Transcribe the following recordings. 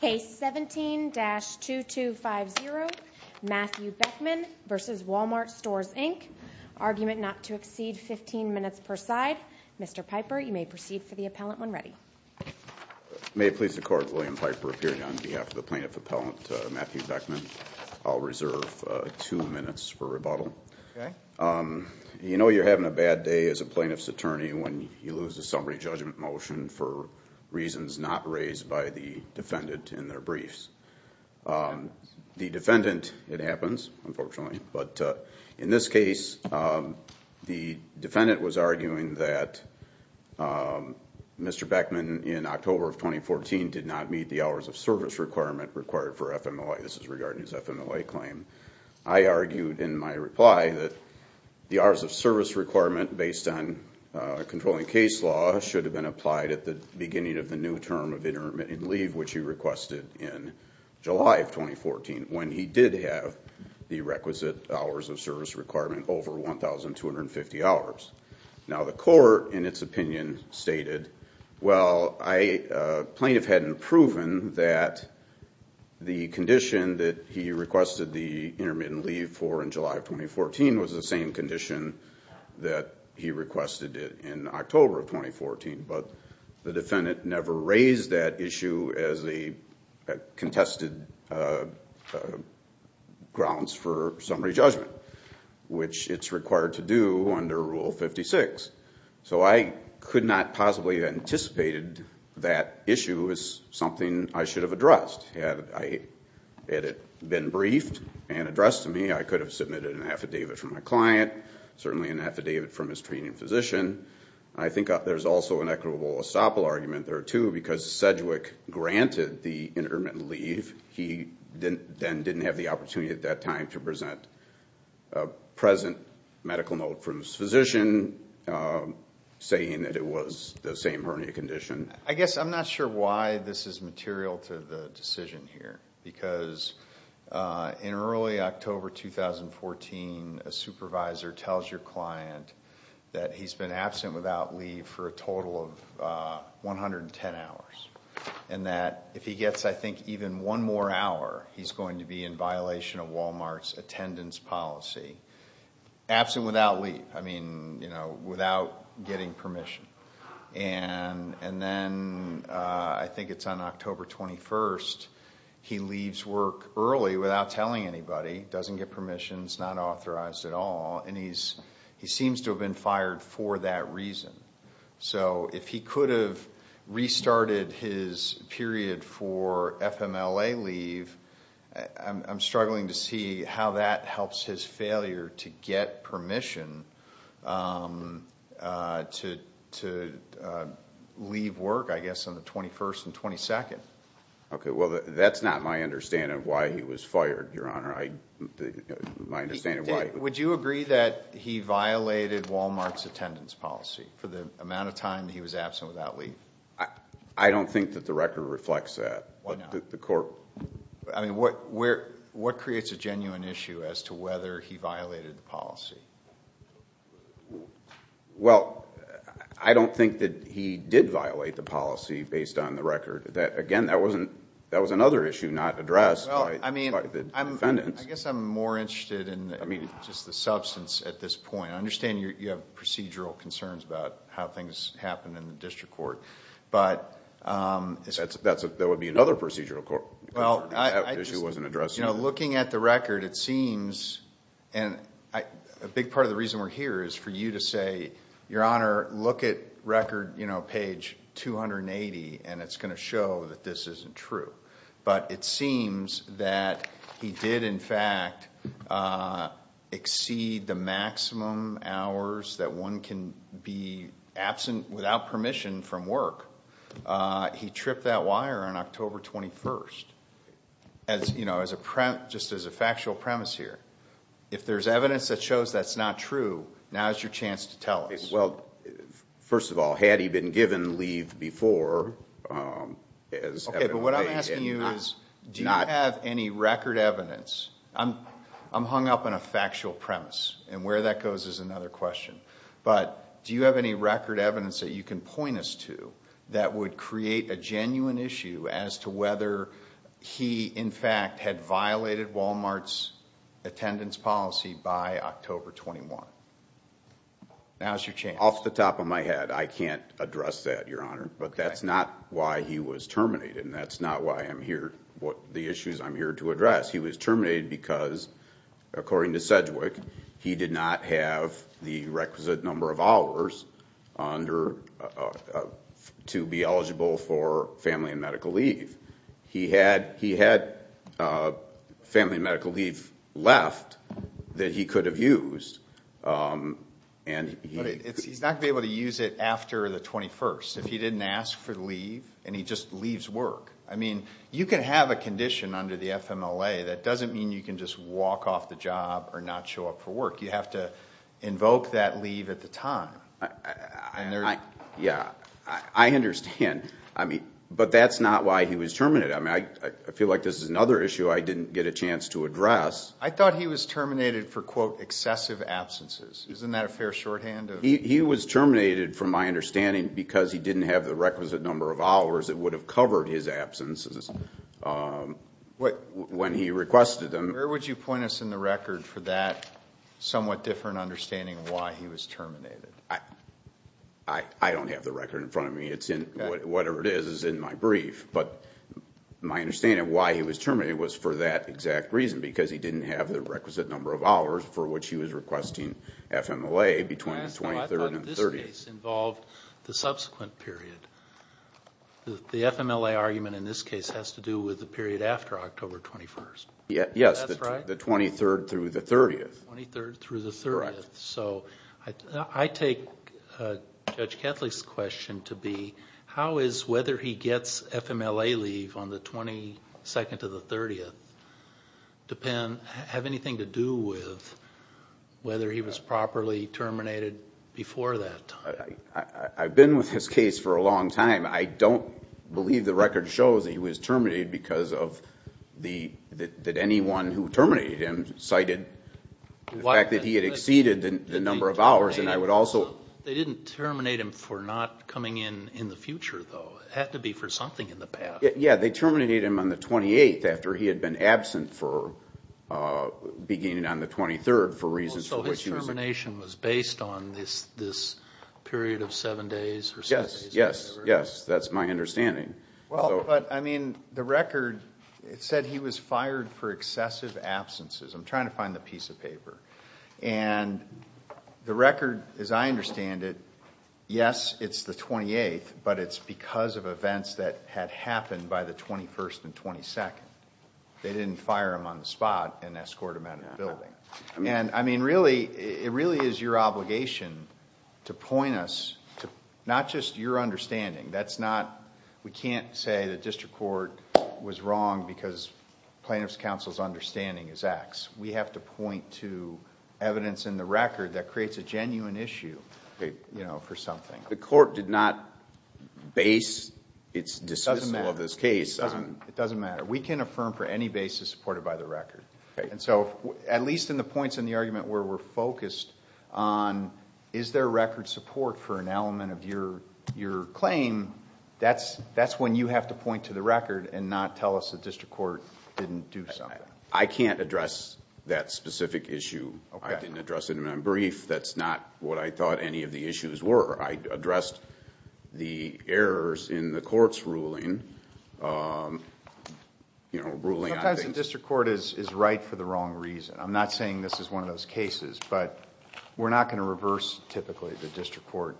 Case 17-2250, Matthew Beckman v. Wal-Mart Stores Inc. Argument not to exceed 15 minutes per side. Mr. Piper, you may proceed for the appellant when ready. May it please the court, William Piper appearing on behalf of the plaintiff appellant, Matthew Beckman. I'll reserve two minutes for rebuttal. You know you're having a bad day as a plaintiff's attorney when you lose a summary judgment motion for reasons not raised by the defendant in their briefs. The defendant, it happens unfortunately, but in this case the defendant was arguing that Mr. Beckman in October of 2014 did not meet the hours of service requirement required for FMLA. This is regarding his FMLA claim. I argued in my reply that the hours of service requirement based on controlling case law should have been applied at the beginning of the new term of intermittent leave which he requested in July of 2014 when he did have the requisite hours of service requirement over 1,250 hours. Now the court in its opinion stated, well, plaintiff hadn't proven that the condition that he requested the intermittent leave for in July of 2014 was the same condition that he requested in October of 2014, but the defendant never raised that issue as a contested grounds for summary judgment, which it's required to do under Rule 56. So I could not possibly have anticipated that issue as something I should have addressed. Had it been briefed and addressed to me, I could have submitted an affidavit from my previous training physician. I think there's also an equitable estoppel argument there too because Sedgwick granted the intermittent leave. He then didn't have the opportunity at that time to present a present medical note from his physician saying that it was the same hernia condition. I guess I'm not sure why this is material to the decision here because in early October 2014, a supervisor tells your client that he's been absent without leave for a total of 110 hours and that if he gets, I think, even one more hour, he's going to be in violation of Walmart's attendance policy. Absent without leave. I mean, you know, without getting permission. And then I think it's on October 21st, he leaves work early without telling anybody. Doesn't get permissions. Not authorized at all. And he seems to have been fired for that reason. So if he could have restarted his period for FMLA leave, I'm struggling to see how that helps his failure to get permission to leave work, I guess, on the 21st and 22nd. Okay. Well, that's not my understanding of why he was fired, Your Honor. Would you agree that he violated Walmart's attendance policy for the amount of time he was absent without leave? I don't think that the record reflects that. I mean, what creates a genuine issue as to whether he violated the policy? Well, I don't think that he did violate the policy based on the record. Again, that was another issue not addressed by the defendants. I guess I'm more interested in just the substance at this point. I understand you have procedural concerns about how things happen in the district court. But... That would be another procedural issue that wasn't addressed. Looking at the record, it seems... and a big part of the reason we're here is for to show that this isn't true. But it seems that he did, in fact, exceed the maximum hours that one can be absent without permission from work. He tripped that wire on October 21st, just as a factual premise here. If there's evidence that shows that's not true, now's your chance to tell us. Well, first of all, had he been given leave before... Okay, but what I'm asking you is, do you have any record evidence? I'm hung up on a factual premise, and where that goes is another question. But do you have any record evidence that you can point us to that would create a genuine issue as to whether he, in fact, had violated Walmart's attendance policy by October 21st? Now's your chance. Off the top of my head, I can't address that, Your Honor. But that's not why he was terminated, and that's not why I'm here... the issues I'm here to address. He was terminated because, according to Sedgwick, he did not have the requisite number of hours to be eligible for family and medical leave. He had family and medical leave left that he could have used, and he... But he's not going to be able to use it after the 21st if he didn't ask for leave, and he just leaves work. I mean, you can have a condition under the FMLA that doesn't mean you can just walk off the job or not show up for work. You have to invoke that leave at the time. Yeah, I understand. I mean, but that's not why he was terminated. I mean, I feel like this is another issue I didn't get a chance to address. I thought he was terminated for, quote, excessive absences. Isn't that a fair shorthand of... He was terminated, from my understanding, because he didn't have the requisite number of hours that would have covered his absences when he requested them. Where would you point us in the record for that somewhat different understanding of why he was terminated? I don't have the record in front of me. Whatever it is, it's in my brief, but my understanding of why he was terminated was for that exact reason, because he didn't have the requisite number of hours for which he was requesting FMLA between the 23rd and the 30th. I thought this case involved the subsequent period. The FMLA argument in this case has to do with the period after October 21st. Yes, the 23rd through the 30th. 23rd through the 30th. I take Judge Kethley's question to be, how is whether he gets FMLA leave on the 22nd to the 30th have anything to do with whether he was properly terminated before that time? I've been with this case for a long time. I don't believe the record shows that he was terminated because of that anyone who terminated him cited the fact that he had exceeded the number of hours. They didn't terminate him for not coming in in the future, though, it had to be for something in the past. Yes, they terminated him on the 28th after he had been absent beginning on the 23rd for reasons for which he was absent. So his termination was based on this period of seven days or seven days, whatever? Yes, that's my understanding. Well, but I mean, the record said he was fired for excessive absences. I'm trying to find the piece of paper. And the record, as I understand it, yes, it's the 28th, but it's because of events that had happened by the 21st and 22nd. They didn't fire him on the spot and escort him out of the building. And I mean, really, it really is your obligation to point us to not just your understanding. That's not... we can't say the district court was wrong because plaintiff's counsel's understanding is X. We have to point to evidence in the record that creates a genuine issue for something. The court did not base its dismissal of this case on... It doesn't matter. We can affirm for any basis supported by the record. And so, at least in the points in the argument where we're focused on is there record support for an element of your claim, that's when you have to point to the record and not tell us the district court didn't do something. I can't address that specific issue. I didn't address it in my brief. That's not what I thought any of the issues were. I addressed the errors in the court's ruling. You know, ruling on things... Sometimes the district court is right for the wrong reason. I'm not saying this is one of those cases, but we're not going to reverse, typically, the district court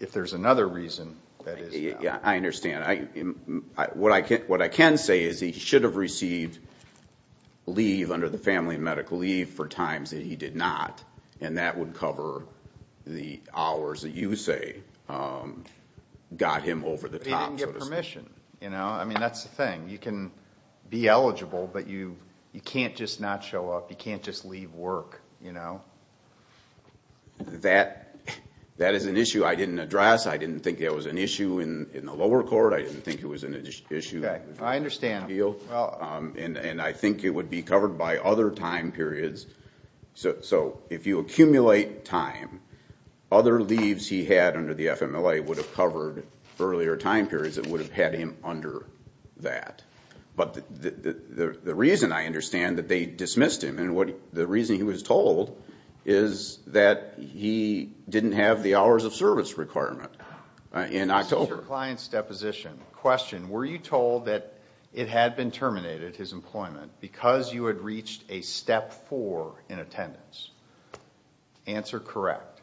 if there's another reason that is... Yeah, I understand. What I can say is he should have received leave under the family medical leave for times that he did not. And that would cover the hours that you say got him over the top, so to speak. But he didn't get permission. I mean, that's the thing. You can be eligible, but you can't just not show up. You can't just leave work. That is an issue I didn't address. I didn't think that was an issue in the lower court. I didn't think it was an issue... Okay. I understand. And I think it would be covered by other time periods. So if you accumulate time, other leaves he had under the FMLA would have covered earlier time periods that would have had him under that. But the reason I understand that they dismissed him, and the reason he was told, is that he didn't have the hours of service requirement in October. This is your client's deposition. Question. Were you told that it had been terminated, his employment, because you had reached a step four in attendance? Answer correct.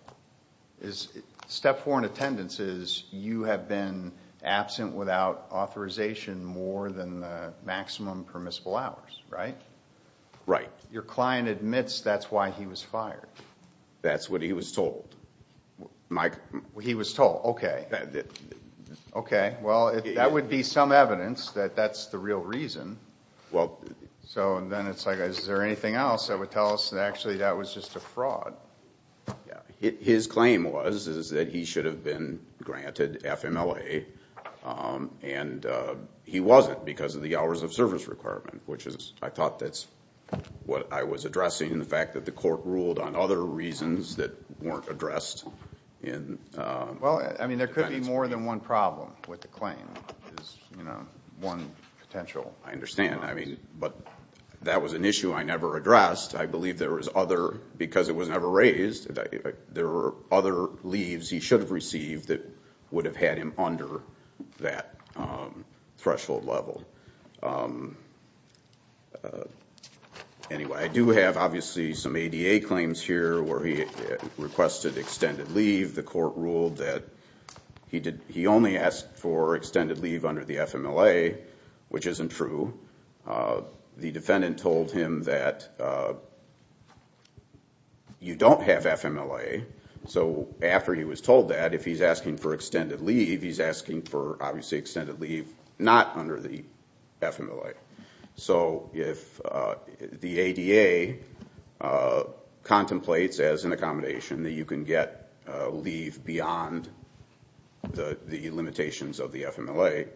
Step four in attendance is you have been absent without authorization more than the maximum permissible hours, right? Right. Your client admits that's why he was fired. That's what he was told. He was told. Okay. Okay. Well, that would be some evidence that that's the real reason. So then it's like, is there anything else that would tell us that actually that was just a fraud? Yeah. His claim was, is that he should have been granted FMLA and he wasn't because of the hours of service requirement, which is, I thought that's what I was addressing, the fact that the court ruled on other reasons that weren't addressed in... Well, I mean, there could be more than one problem with the claim, is, you know, one potential. I understand. I mean, but that was an issue I never addressed. I believe there was other... because it was never raised, there were other leaves he should have received that would have had him under that threshold level. Anyway, I do have, obviously, some ADA claims here where he requested extended leave. The court ruled that he only asked for extended leave under the FMLA, which isn't true. The defendant told him that you don't have FMLA, so after he was told that, if he's asking for extended leave, he's asking for, obviously, extended leave not under the FMLA. So if the ADA contemplates as an accommodation that you can get leave beyond the limitations of the FMLA,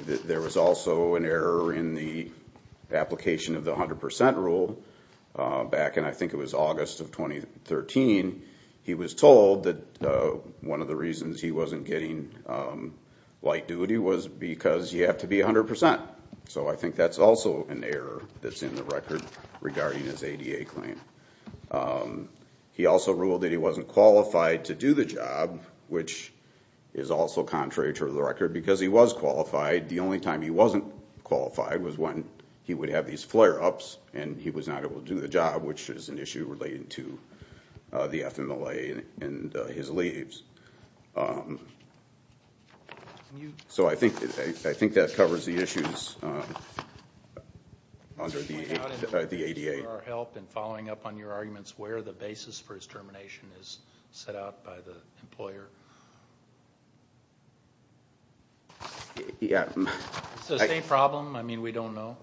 there was also an error in the application of the 100% rule back in, I think it was August of 2013. He was told that one of the reasons he wasn't getting light duty was because you have to be 100%. So I think that's also an error that's in the record regarding his ADA claim. He also ruled that he wasn't qualified to do the job, which is also contrary to the record because he was qualified. The only time he wasn't qualified was when he would have these flare-ups and he was not able to do the job, which is an issue related to the FMLA and his leaves. So I think that covers the issues under the ADA. Thank you for your help in following up on your arguments where the basis for his termination is set out by the employer. Yeah. Is this a state problem? I mean, we don't know?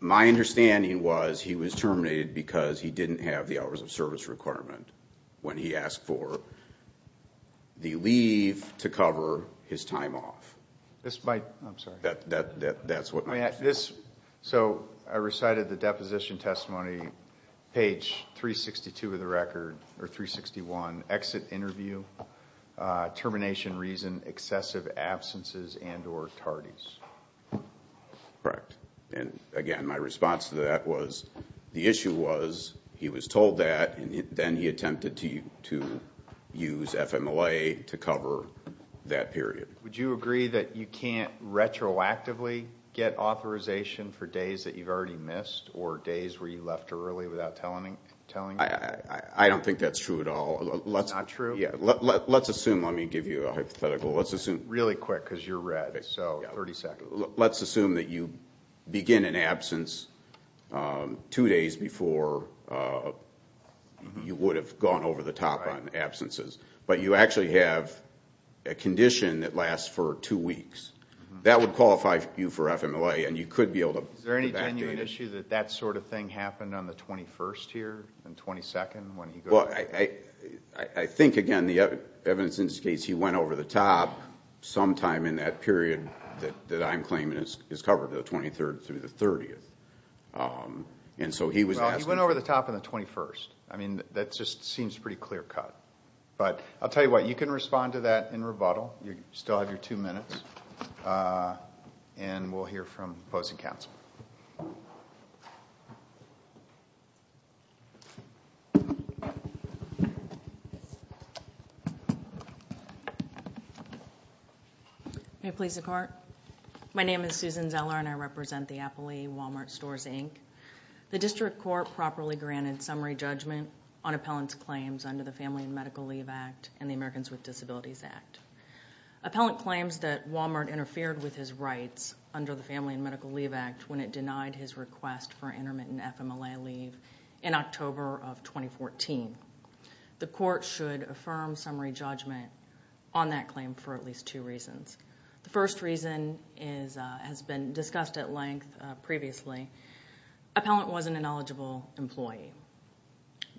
My understanding was he was terminated because he didn't have the hours of service requirement when he asked for the leave to cover his time off. This might... I'm sorry. I think that's what my understanding is. So I recited the deposition testimony, page 362 of the record, or 361, exit interview, termination reason, excessive absences and or tardies. Correct. And again, my response to that was the issue was he was told that and then he attempted to use FMLA to cover that period. Would you agree that you can't retroactively get authorization for days that you've already missed or days where you left early without telling me? I don't think that's true at all. Not true? Yeah. Let's assume, let me give you a hypothetical. Let's assume... Really quick because you're red. So 30 seconds. Let's assume that you begin an absence two days before you would have gone over the top on absences. But you actually have a condition that lasts for two weeks. That would qualify you for FMLA and you could be able to... Is there any genuine issue that that sort of thing happened on the 21st here and 22nd when he... Well, I think, again, the evidence indicates he went over the top sometime in that period that I'm claiming is covered, the 23rd through the 30th. And so he was asking... Well, he went over the top on the 21st. I mean, that just seems pretty clear-cut. But I'll tell you what, you can respond to that in rebuttal. You still have your two minutes and we'll hear from opposing counsel. May it please the court? My name is Susan Zeller and I represent the Appalachian Walmart Stores, Inc. The district court properly granted summary judgment on appellant's claims under the Family and Medical Leave Act and the Americans with Disabilities Act. Appellant claims that Walmart interfered with his rights under the Family and Medical Leave Act when it denied his request for intermittent FMLA leave in October of 2014. The court should affirm summary judgment on that claim for at least two reasons. The first reason has been discussed at length previously. Appellant wasn't an eligible employee.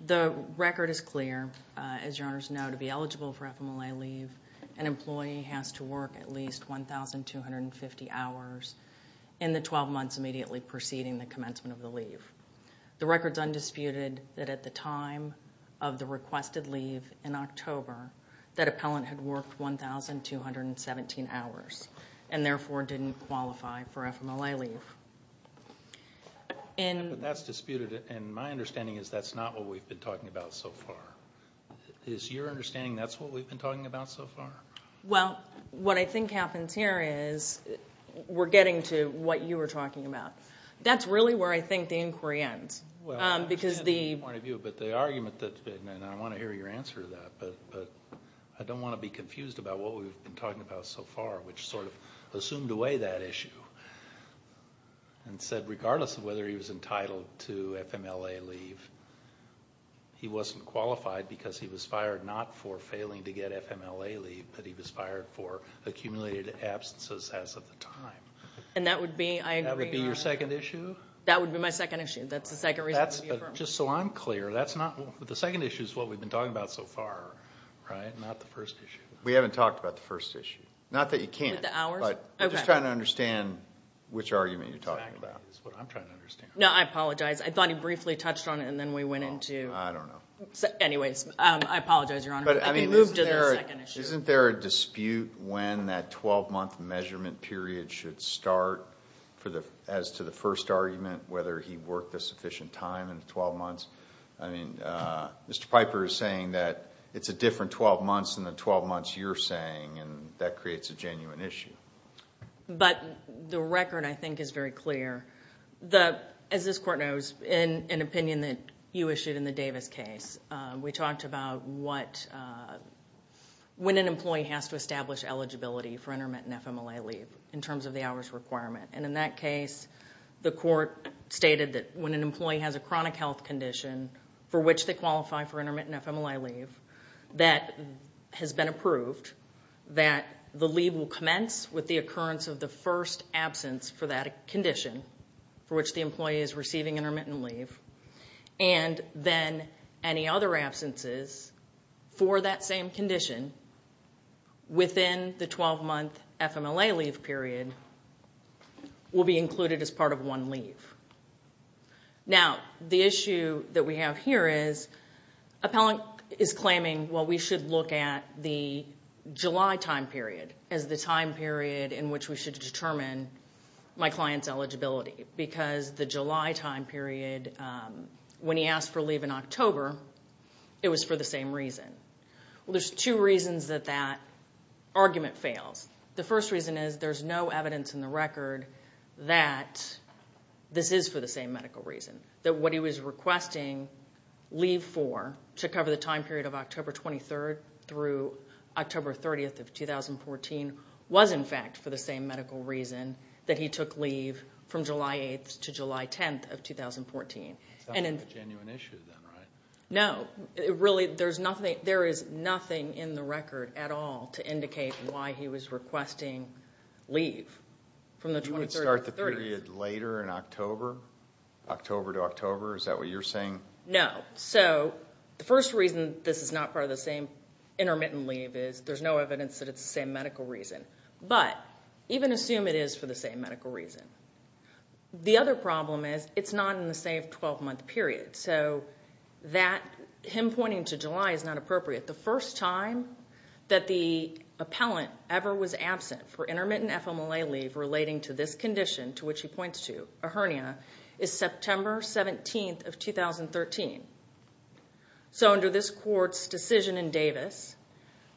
The record is clear. As your honors know, to be eligible for FMLA leave, an employee has to work at least 1,250 hours in the 12 months immediately preceding the commencement of the leave. The record's undisputed that at the time of the requested leave in October, that appellant had worked 1,217 hours and therefore didn't qualify for FMLA leave. That's disputed. My understanding is that's not what we've been talking about so far. Is your understanding that's what we've been talking about so far? What I think happens here is we're getting to what you were talking about. That's really where I think the inquiry ends. I understand the point of view, but the argument, and I want to hear your answer to that, but I don't want to be confused about what we've been talking about so far, which sort of assumed away that issue and said regardless of whether he was entitled to FMLA leave, he wasn't qualified because he was fired not for failing to get FMLA leave, but he was fired for accumulated absences as of the time. That would be your second issue? That would be my second issue. That's the second reason for the affirmation. Just so I'm clear, the second issue is what we've been talking about so far, not the first issue. We haven't talked about the first issue. Not that you can't. With the hours? I'm just trying to understand which argument you're talking about. Exactly. That's what I'm trying to understand. I apologize. I thought he briefly touched on it and then we went into... I don't know. Anyways, I apologize, Your Honor, but we moved to the second issue. Isn't there a dispute when that 12-month measurement period should start as to the sufficient time in the 12 months? Mr. Piper is saying that it's a different 12 months than the 12 months you're saying and that creates a genuine issue. The record, I think, is very clear. As this Court knows, in an opinion that you issued in the Davis case, we talked about when an employee has to establish eligibility for intermittent FMLA leave in terms of the hours requirement. In that case, the Court stated that when an employee has a chronic health condition for which they qualify for intermittent FMLA leave that has been approved, that the leave will commence with the occurrence of the first absence for that condition for which the employee is receiving intermittent leave and then any other absences for that same condition within the 12-month FMLA leave period will be included as part of one leave. The issue that we have here is Appellant is claiming, well, we should look at the July time period as the time period in which we should determine my client's eligibility because the July time period, when he asked for leave in October, it was for the same reason. Well, there's two reasons that that argument fails. The first reason is there's no evidence in the record that this is for the same medical reason, that what he was requesting leave for to cover the time period of October 23rd through October 30th of 2014 was, in fact, for the same medical reason that he took leave from July 8th to July 10th of 2014. It's not a genuine issue then, right? No. There is nothing in the record at all to indicate why he was requesting leave from the 23rd to 30th. You would start the period later in October, October to October, is that what you're saying? No. So the first reason this is not part of the same intermittent leave is there's no evidence that it's the same medical reason, but even assume it is for the same medical reason. The other problem is it's not in the same 12-month period, so him pointing to July is not appropriate. The first time that the appellant ever was absent for intermittent FMLA leave relating to this condition to which he points to, a hernia, is September 17th of 2013. So under this court's decision in Davis,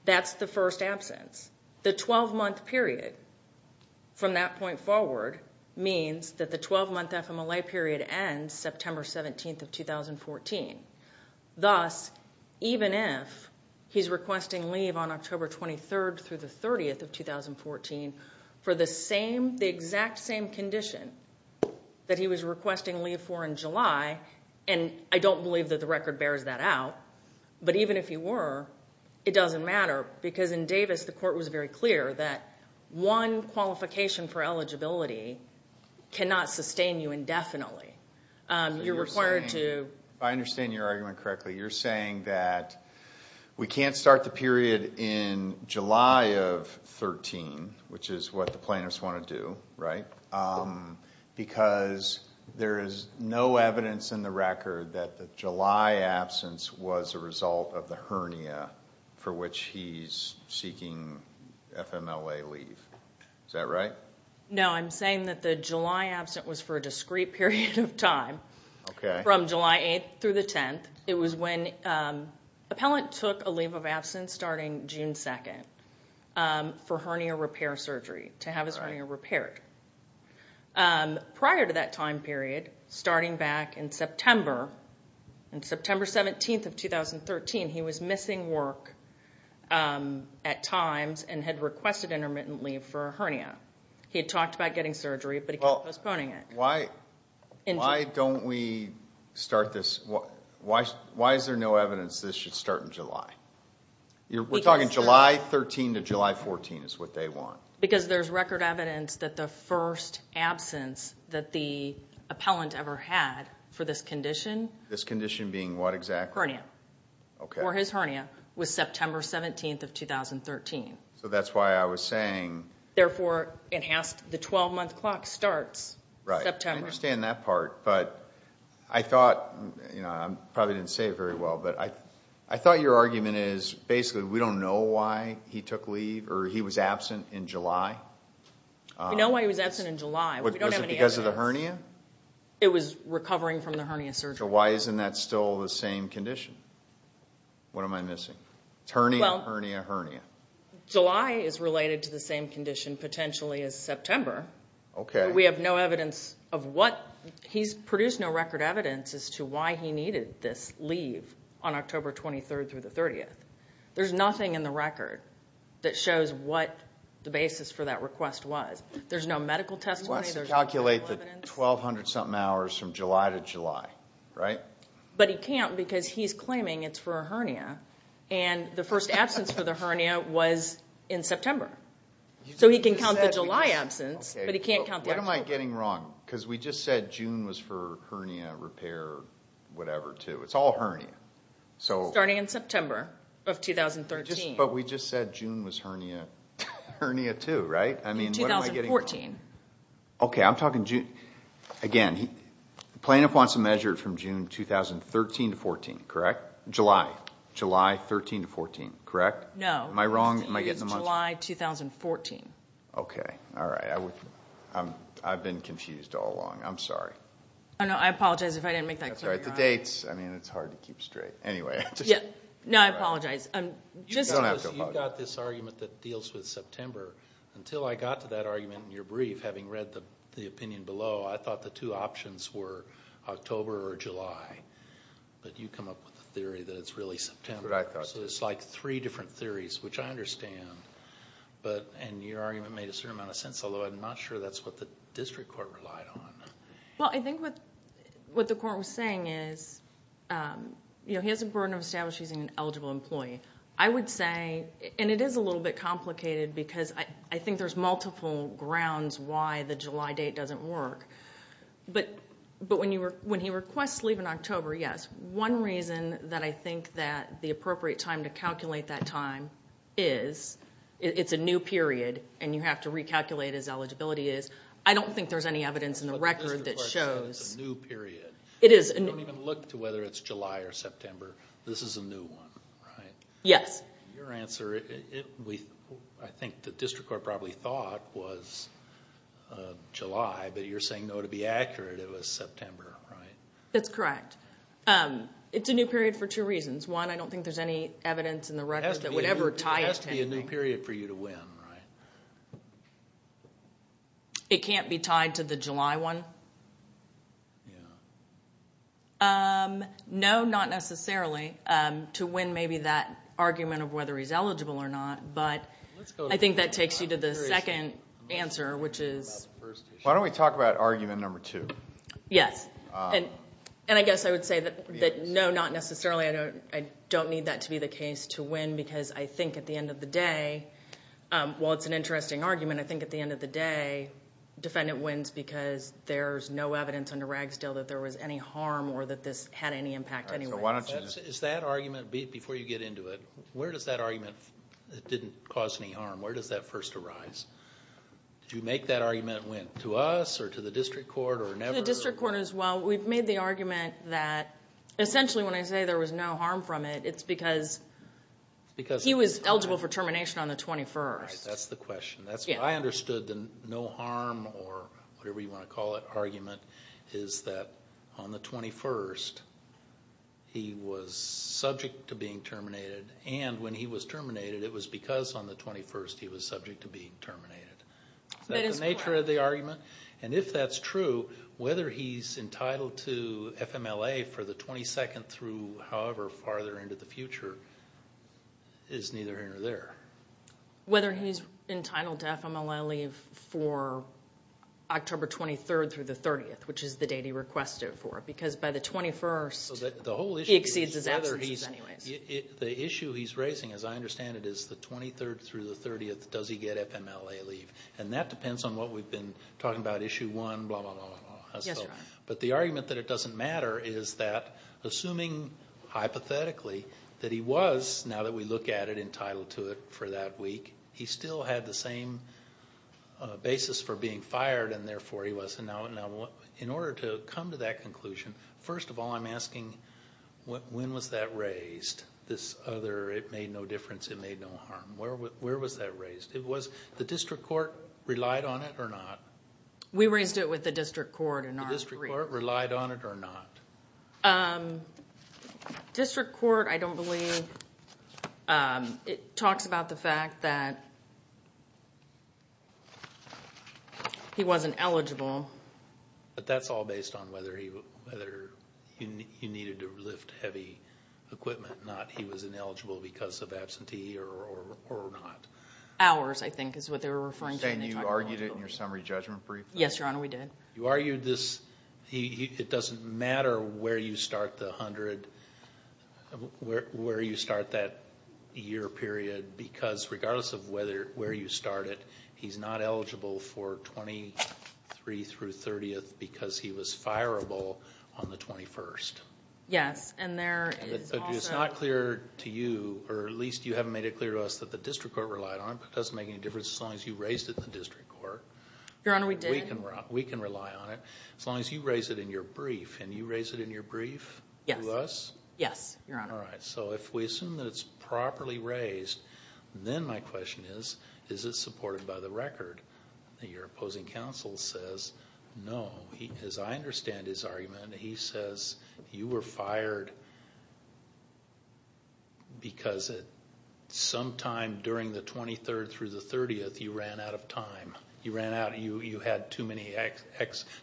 that's the first absence. The 12-month period from that point forward means that the 12-month FMLA period ends September 17th of 2014. Thus, even if he's requesting leave on October 23rd through the 30th of 2014 for the same, the exact same condition that he was requesting leave for in July, and I don't believe that the record bears that out, but even if you were, it doesn't matter because in Davis, the court was very clear that one qualification for eligibility cannot sustain you indefinitely. You're required to... So you're saying, if I understand your argument correctly, you're saying that we can't start the period in July of 13, which is what the plaintiffs want to do, right? Because there is no evidence in the record that the July absence was a result of the June FMLA leave, is that right? No, I'm saying that the July absence was for a discrete period of time, from July 8th through the 10th. It was when an appellant took a leave of absence starting June 2nd for hernia repair surgery, to have his hernia repaired. Prior to that time period, starting back in September, on September 17th of 2013, he was asked six times and had requested intermittent leave for a hernia. He had talked about getting surgery, but he kept postponing it. Why don't we start this... Why is there no evidence this should start in July? We're talking July 13 to July 14 is what they want. Because there's record evidence that the first absence that the appellant ever had for this condition... This condition being what exactly? Hernia. Okay. The first absence for his hernia was September 17th of 2013. So that's why I was saying... Therefore it has to... The 12-month clock starts September. Right. I understand that part. But I thought... I probably didn't say it very well, but I thought your argument is basically we don't know why he took leave or he was absent in July. We know why he was absent in July. We don't have any evidence. Was it because of the hernia? It was recovering from the hernia surgery. So why isn't that still the same condition? What am I missing? It's hernia, hernia, hernia. July is related to the same condition potentially as September. We have no evidence of what... He's produced no record evidence as to why he needed this leave on October 23rd through the 30th. There's nothing in the record that shows what the basis for that request was. There's no medical testimony. There's no medical evidence. He can count 1200-something hours from July to July, right? But he can't because he's claiming it's for a hernia. And the first absence for the hernia was in September. So he can count the July absence, but he can't count the actual... What am I getting wrong? Because we just said June was for hernia repair, whatever, too. It's all hernia. Starting in September of 2013. But we just said June was hernia too, right? I mean, what am I getting wrong? In 2014. Okay, I'm talking June... Again, the plaintiff wants to measure it from June 2013 to 14, correct? July. July 13 to 14, correct? No. Am I wrong? Am I getting the month... It's July 2014. Okay. All right. I've been confused all along. I'm sorry. Oh, no. I apologize if I didn't make that clear. That's all right. The dates... I mean, it's hard to keep straight. Anyway... Yeah. No, I apologize. I'm just... You don't have to apologize. I mean, there's an argument that deals with September. Until I got to that argument in your brief, having read the opinion below, I thought the two options were October or July, but you come up with the theory that it's really September. That's what I thought. So it's like three different theories, which I understand, and your argument made a certain amount of sense, although I'm not sure that's what the district court relied on. Well, I think what the court was saying is he has a burden of establishing an eligible employee. I would say, and it is a little bit complicated, because I think there's multiple grounds why the July date doesn't work, but when he requests leave in October, yes. One reason that I think that the appropriate time to calculate that time is it's a new period and you have to recalculate his eligibility is, I don't think there's any evidence in the record that shows... But the district court said it's a new period. It is a new... You don't even look to whether it's July or September. This is a new one, right? Yes. Your answer, I think the district court probably thought was July, but you're saying, no, to be accurate, it was September, right? That's correct. It's a new period for two reasons. One, I don't think there's any evidence in the record that would ever tie it to... It has to be a new period for you to win, right? It can't be tied to the July one? Yeah. No, not necessarily, to win maybe that argument of whether he's eligible or not, but I think that takes you to the second answer, which is... Why don't we talk about argument number two? Yes. I guess I would say that no, not necessarily. I don't need that to be the case to win because I think at the end of the day, while it's an interesting argument, I think at the end of the day, defendant wins because there's no evidence under Ragsdale that there was any harm or that this had any impact anyway. Why don't you... Is that argument, before you get into it, where does that argument that didn't cause any harm, where does that first arise? Did you make that argument to us or to the district court or never? To the district court as well. We've made the argument that essentially when I say there was no harm from it, it's because he was eligible for termination on the 21st. That's the question. I understood the no harm or whatever you want to call it argument is that on the 21st, he was subject to being terminated, and when he was terminated, it was because on the 21st, he was subject to being terminated. That's the nature of the argument, and if that's true, whether he's entitled to FMLA for the 22nd through however farther into the future is neither here nor there. Whether he's entitled to FMLA leave for October 23rd through the 30th, which is the date he requested for it, because by the 21st, he exceeds his absences anyways. The issue he's raising, as I understand it, is the 23rd through the 30th, does he get FMLA leave, and that depends on what we've been talking about, issue 1, blah, blah, blah. But the argument that it doesn't matter is that assuming hypothetically that he was, now that we look at it, entitled to it for that week, he still had the same basis for being fired, and therefore, he wasn't out. In order to come to that conclusion, first of all, I'm asking when was that raised, this other, it made no difference, it made no harm. Where was that raised? It was the district court relied on it or not? We raised it with the district court in our brief. The district court relied on it or not? District court, I don't believe, it talks about the fact that he wasn't eligible. But that's all based on whether you needed to lift heavy equipment, not he was ineligible because of absentee or not. Hours, I think is what they were referring to when they talked about eligibility. You're saying you argued it in your summary judgment brief? Yes, Your Honor, we did. You argued this, it doesn't matter where you start the 100, where you start that year period because regardless of where you start it, he's not eligible for 23 through 30th because he was fireable on the 21st. Yes, and there is also... It's not clear to you, or at least you haven't made it clear to us that the district court relied on it, but it doesn't make any difference as long as you raised it in the district court. Your Honor, we did. We can rely on it, as long as you raise it in your brief, and you raised it in your brief? Yes. To us? Yes, Your Honor. All right, so if we assume that it's properly raised, then my question is, is it supported by the record? Your opposing counsel says no. As I understand his argument, he says you were fired because sometime during the 23rd through the 30th, you ran out of time. You ran out. You had too many...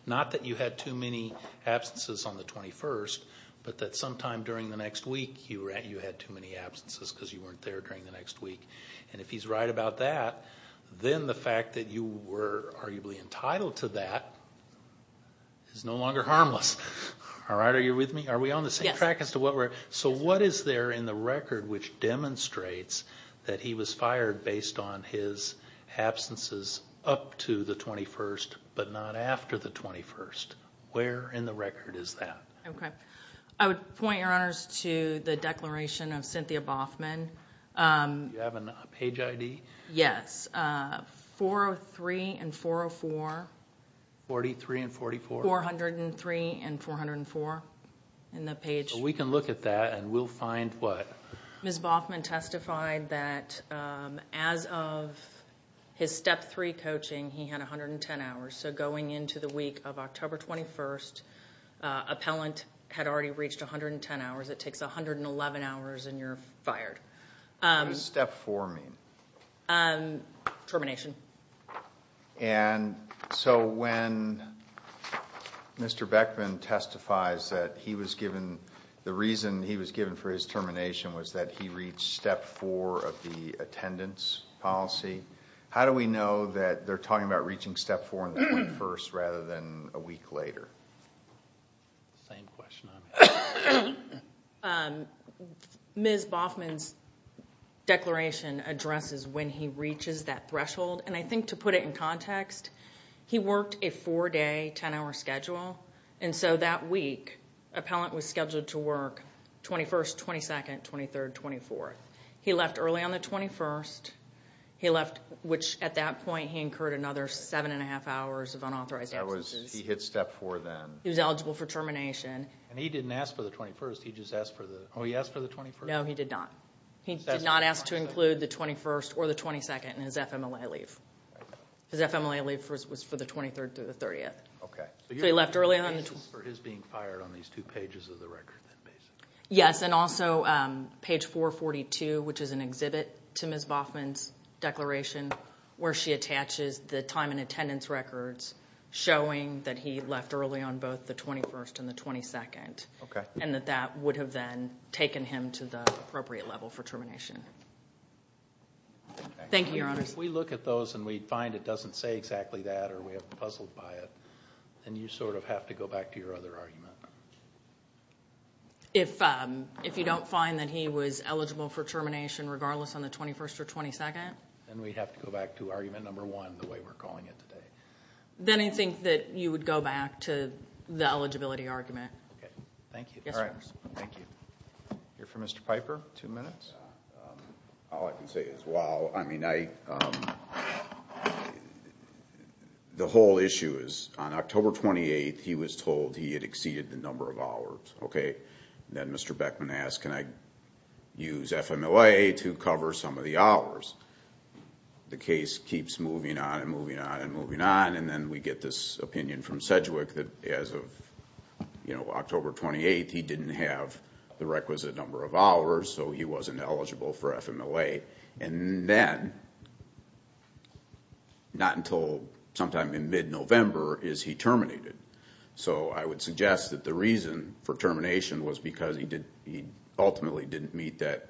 not that you had too many absences on the 21st, but that sometime during the next week, you had too many absences because you weren't there during the next week. And if he's right about that, then the fact that you were arguably entitled to that is no longer harmless. All right? Are you with me? Are we on the same track as to what we're... Yes. So what is there in the record which demonstrates that he was fired based on his absences of up to the 21st, but not after the 21st? Where in the record is that? Okay. I would point, Your Honors, to the declaration of Cynthia Boffman. Do you have a page ID? Yes. 403 and 404. 43 and 44? 403 and 404 in the page. We can look at that, and we'll find what? Ms. Boffman testified that as of his Step 3 coaching, he had 110 hours. So going into the week of October 21st, appellant had already reached 110 hours. It takes 111 hours, and you're fired. What does Step 4 mean? Termination. And so when Mr. Beckman testifies that he was given... the reason he was given for his termination was that he reached Step 4 of the attendance policy. How do we know that they're talking about reaching Step 4 on the 21st rather than a week later? Same question. Ms. Boffman's declaration addresses when he reaches that threshold, and I think to put it in context, he worked a four-day, ten-hour schedule, and so that week, appellant was on the 22nd, 23rd, 24th. He left early on the 21st, which at that point, he incurred another seven-and-a-half hours of unauthorized absences. He hit Step 4 then. He was eligible for termination. And he didn't ask for the 21st, he just asked for the... oh, he asked for the 21st? No, he did not. He did not ask to include the 21st or the 22nd in his FMLA leave. His FMLA leave was for the 23rd through the 30th. Okay. So he left early on the... So you had expectations for his being fired on these two pages of the record, then, basically? Yes, and also, page 442, which is an exhibit to Ms. Boffman's declaration, where she attaches the time and attendance records showing that he left early on both the 21st and the 22nd, and that that would have then taken him to the appropriate level for termination. Thank you, Your Honors. If we look at those and we find it doesn't say exactly that, or we are puzzled by it, then you sort of have to go back to your other argument. If you don't find that he was eligible for termination regardless on the 21st or 22nd? Then we'd have to go back to argument number one, the way we're calling it today. Then I think that you would go back to the eligibility argument. Okay. Thank you. Yes, Your Honors. Thank you. Here for Mr. Piper. Two minutes. All I can say is, wow, I mean, I... the whole issue is, on October 28th, he was told he had exceeded the number of hours. Okay. Then Mr. Beckman asked, can I use FMLA to cover some of the hours? The case keeps moving on and moving on and moving on, and then we get this opinion from Sedgwick that as of October 28th, he didn't have the requisite number of hours, so he wasn't eligible for FMLA. Then, not until sometime in mid-November is he terminated. I would suggest that the reason for termination was because he ultimately didn't meet that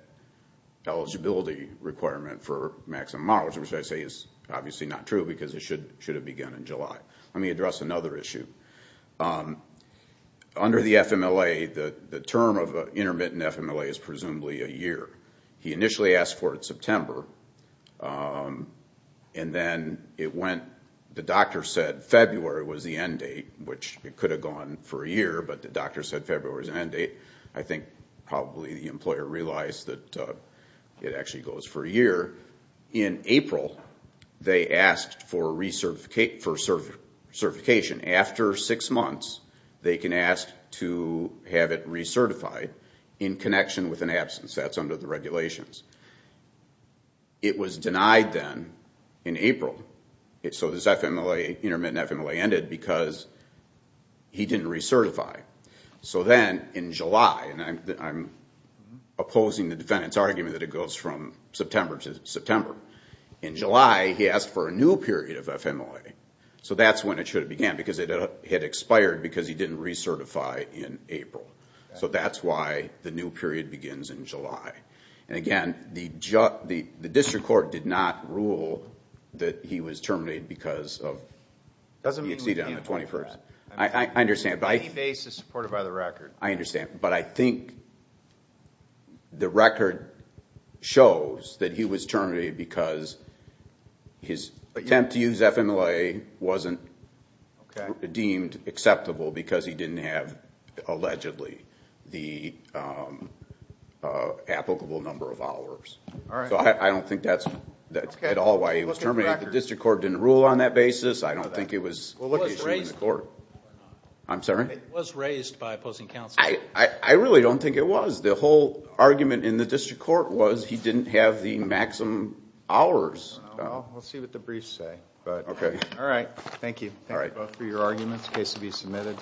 eligibility requirement for maximum hours, which I say is obviously not true because it should have begun in July. Let me address another issue. Under the FMLA, the term of intermittent FMLA is presumably a year. He initially asked for it September, and then it went... the doctor said February was the end date, which it could have gone for a year, but the doctor said February was the end date. I think probably the employer realized that it actually goes for a year. In April, they asked for certification. After six months, they can ask to have it recertified in connection with an absence. That's under the regulations. It was denied then in April. This FMLA, intermittent FMLA, ended because he didn't recertify. In July, and I'm opposing the defendant's argument that it goes from September to September. In July, he asked for a new period of FMLA. That's when it should have began because it had expired because he didn't recertify in April. That's why the new period begins in July. Again, the district court did not rule that he was terminated because he exceeded on the 21st. I understand. Any base is supported by the record. I understand, but I think the record shows that he was terminated because his attempt to use FMLA wasn't deemed acceptable because he didn't have allegedly the applicable number of hours. I don't think that's at all why he was terminated. The district court didn't rule on that basis. I don't think it was an issue in the court. I'm sorry? It was raised by opposing counsel. I really don't think it was. The whole argument in the district court was he didn't have the maximum hours. We'll see what the briefs say. Okay. All right. Thank you. Thank you both for your arguments. The case will be submitted.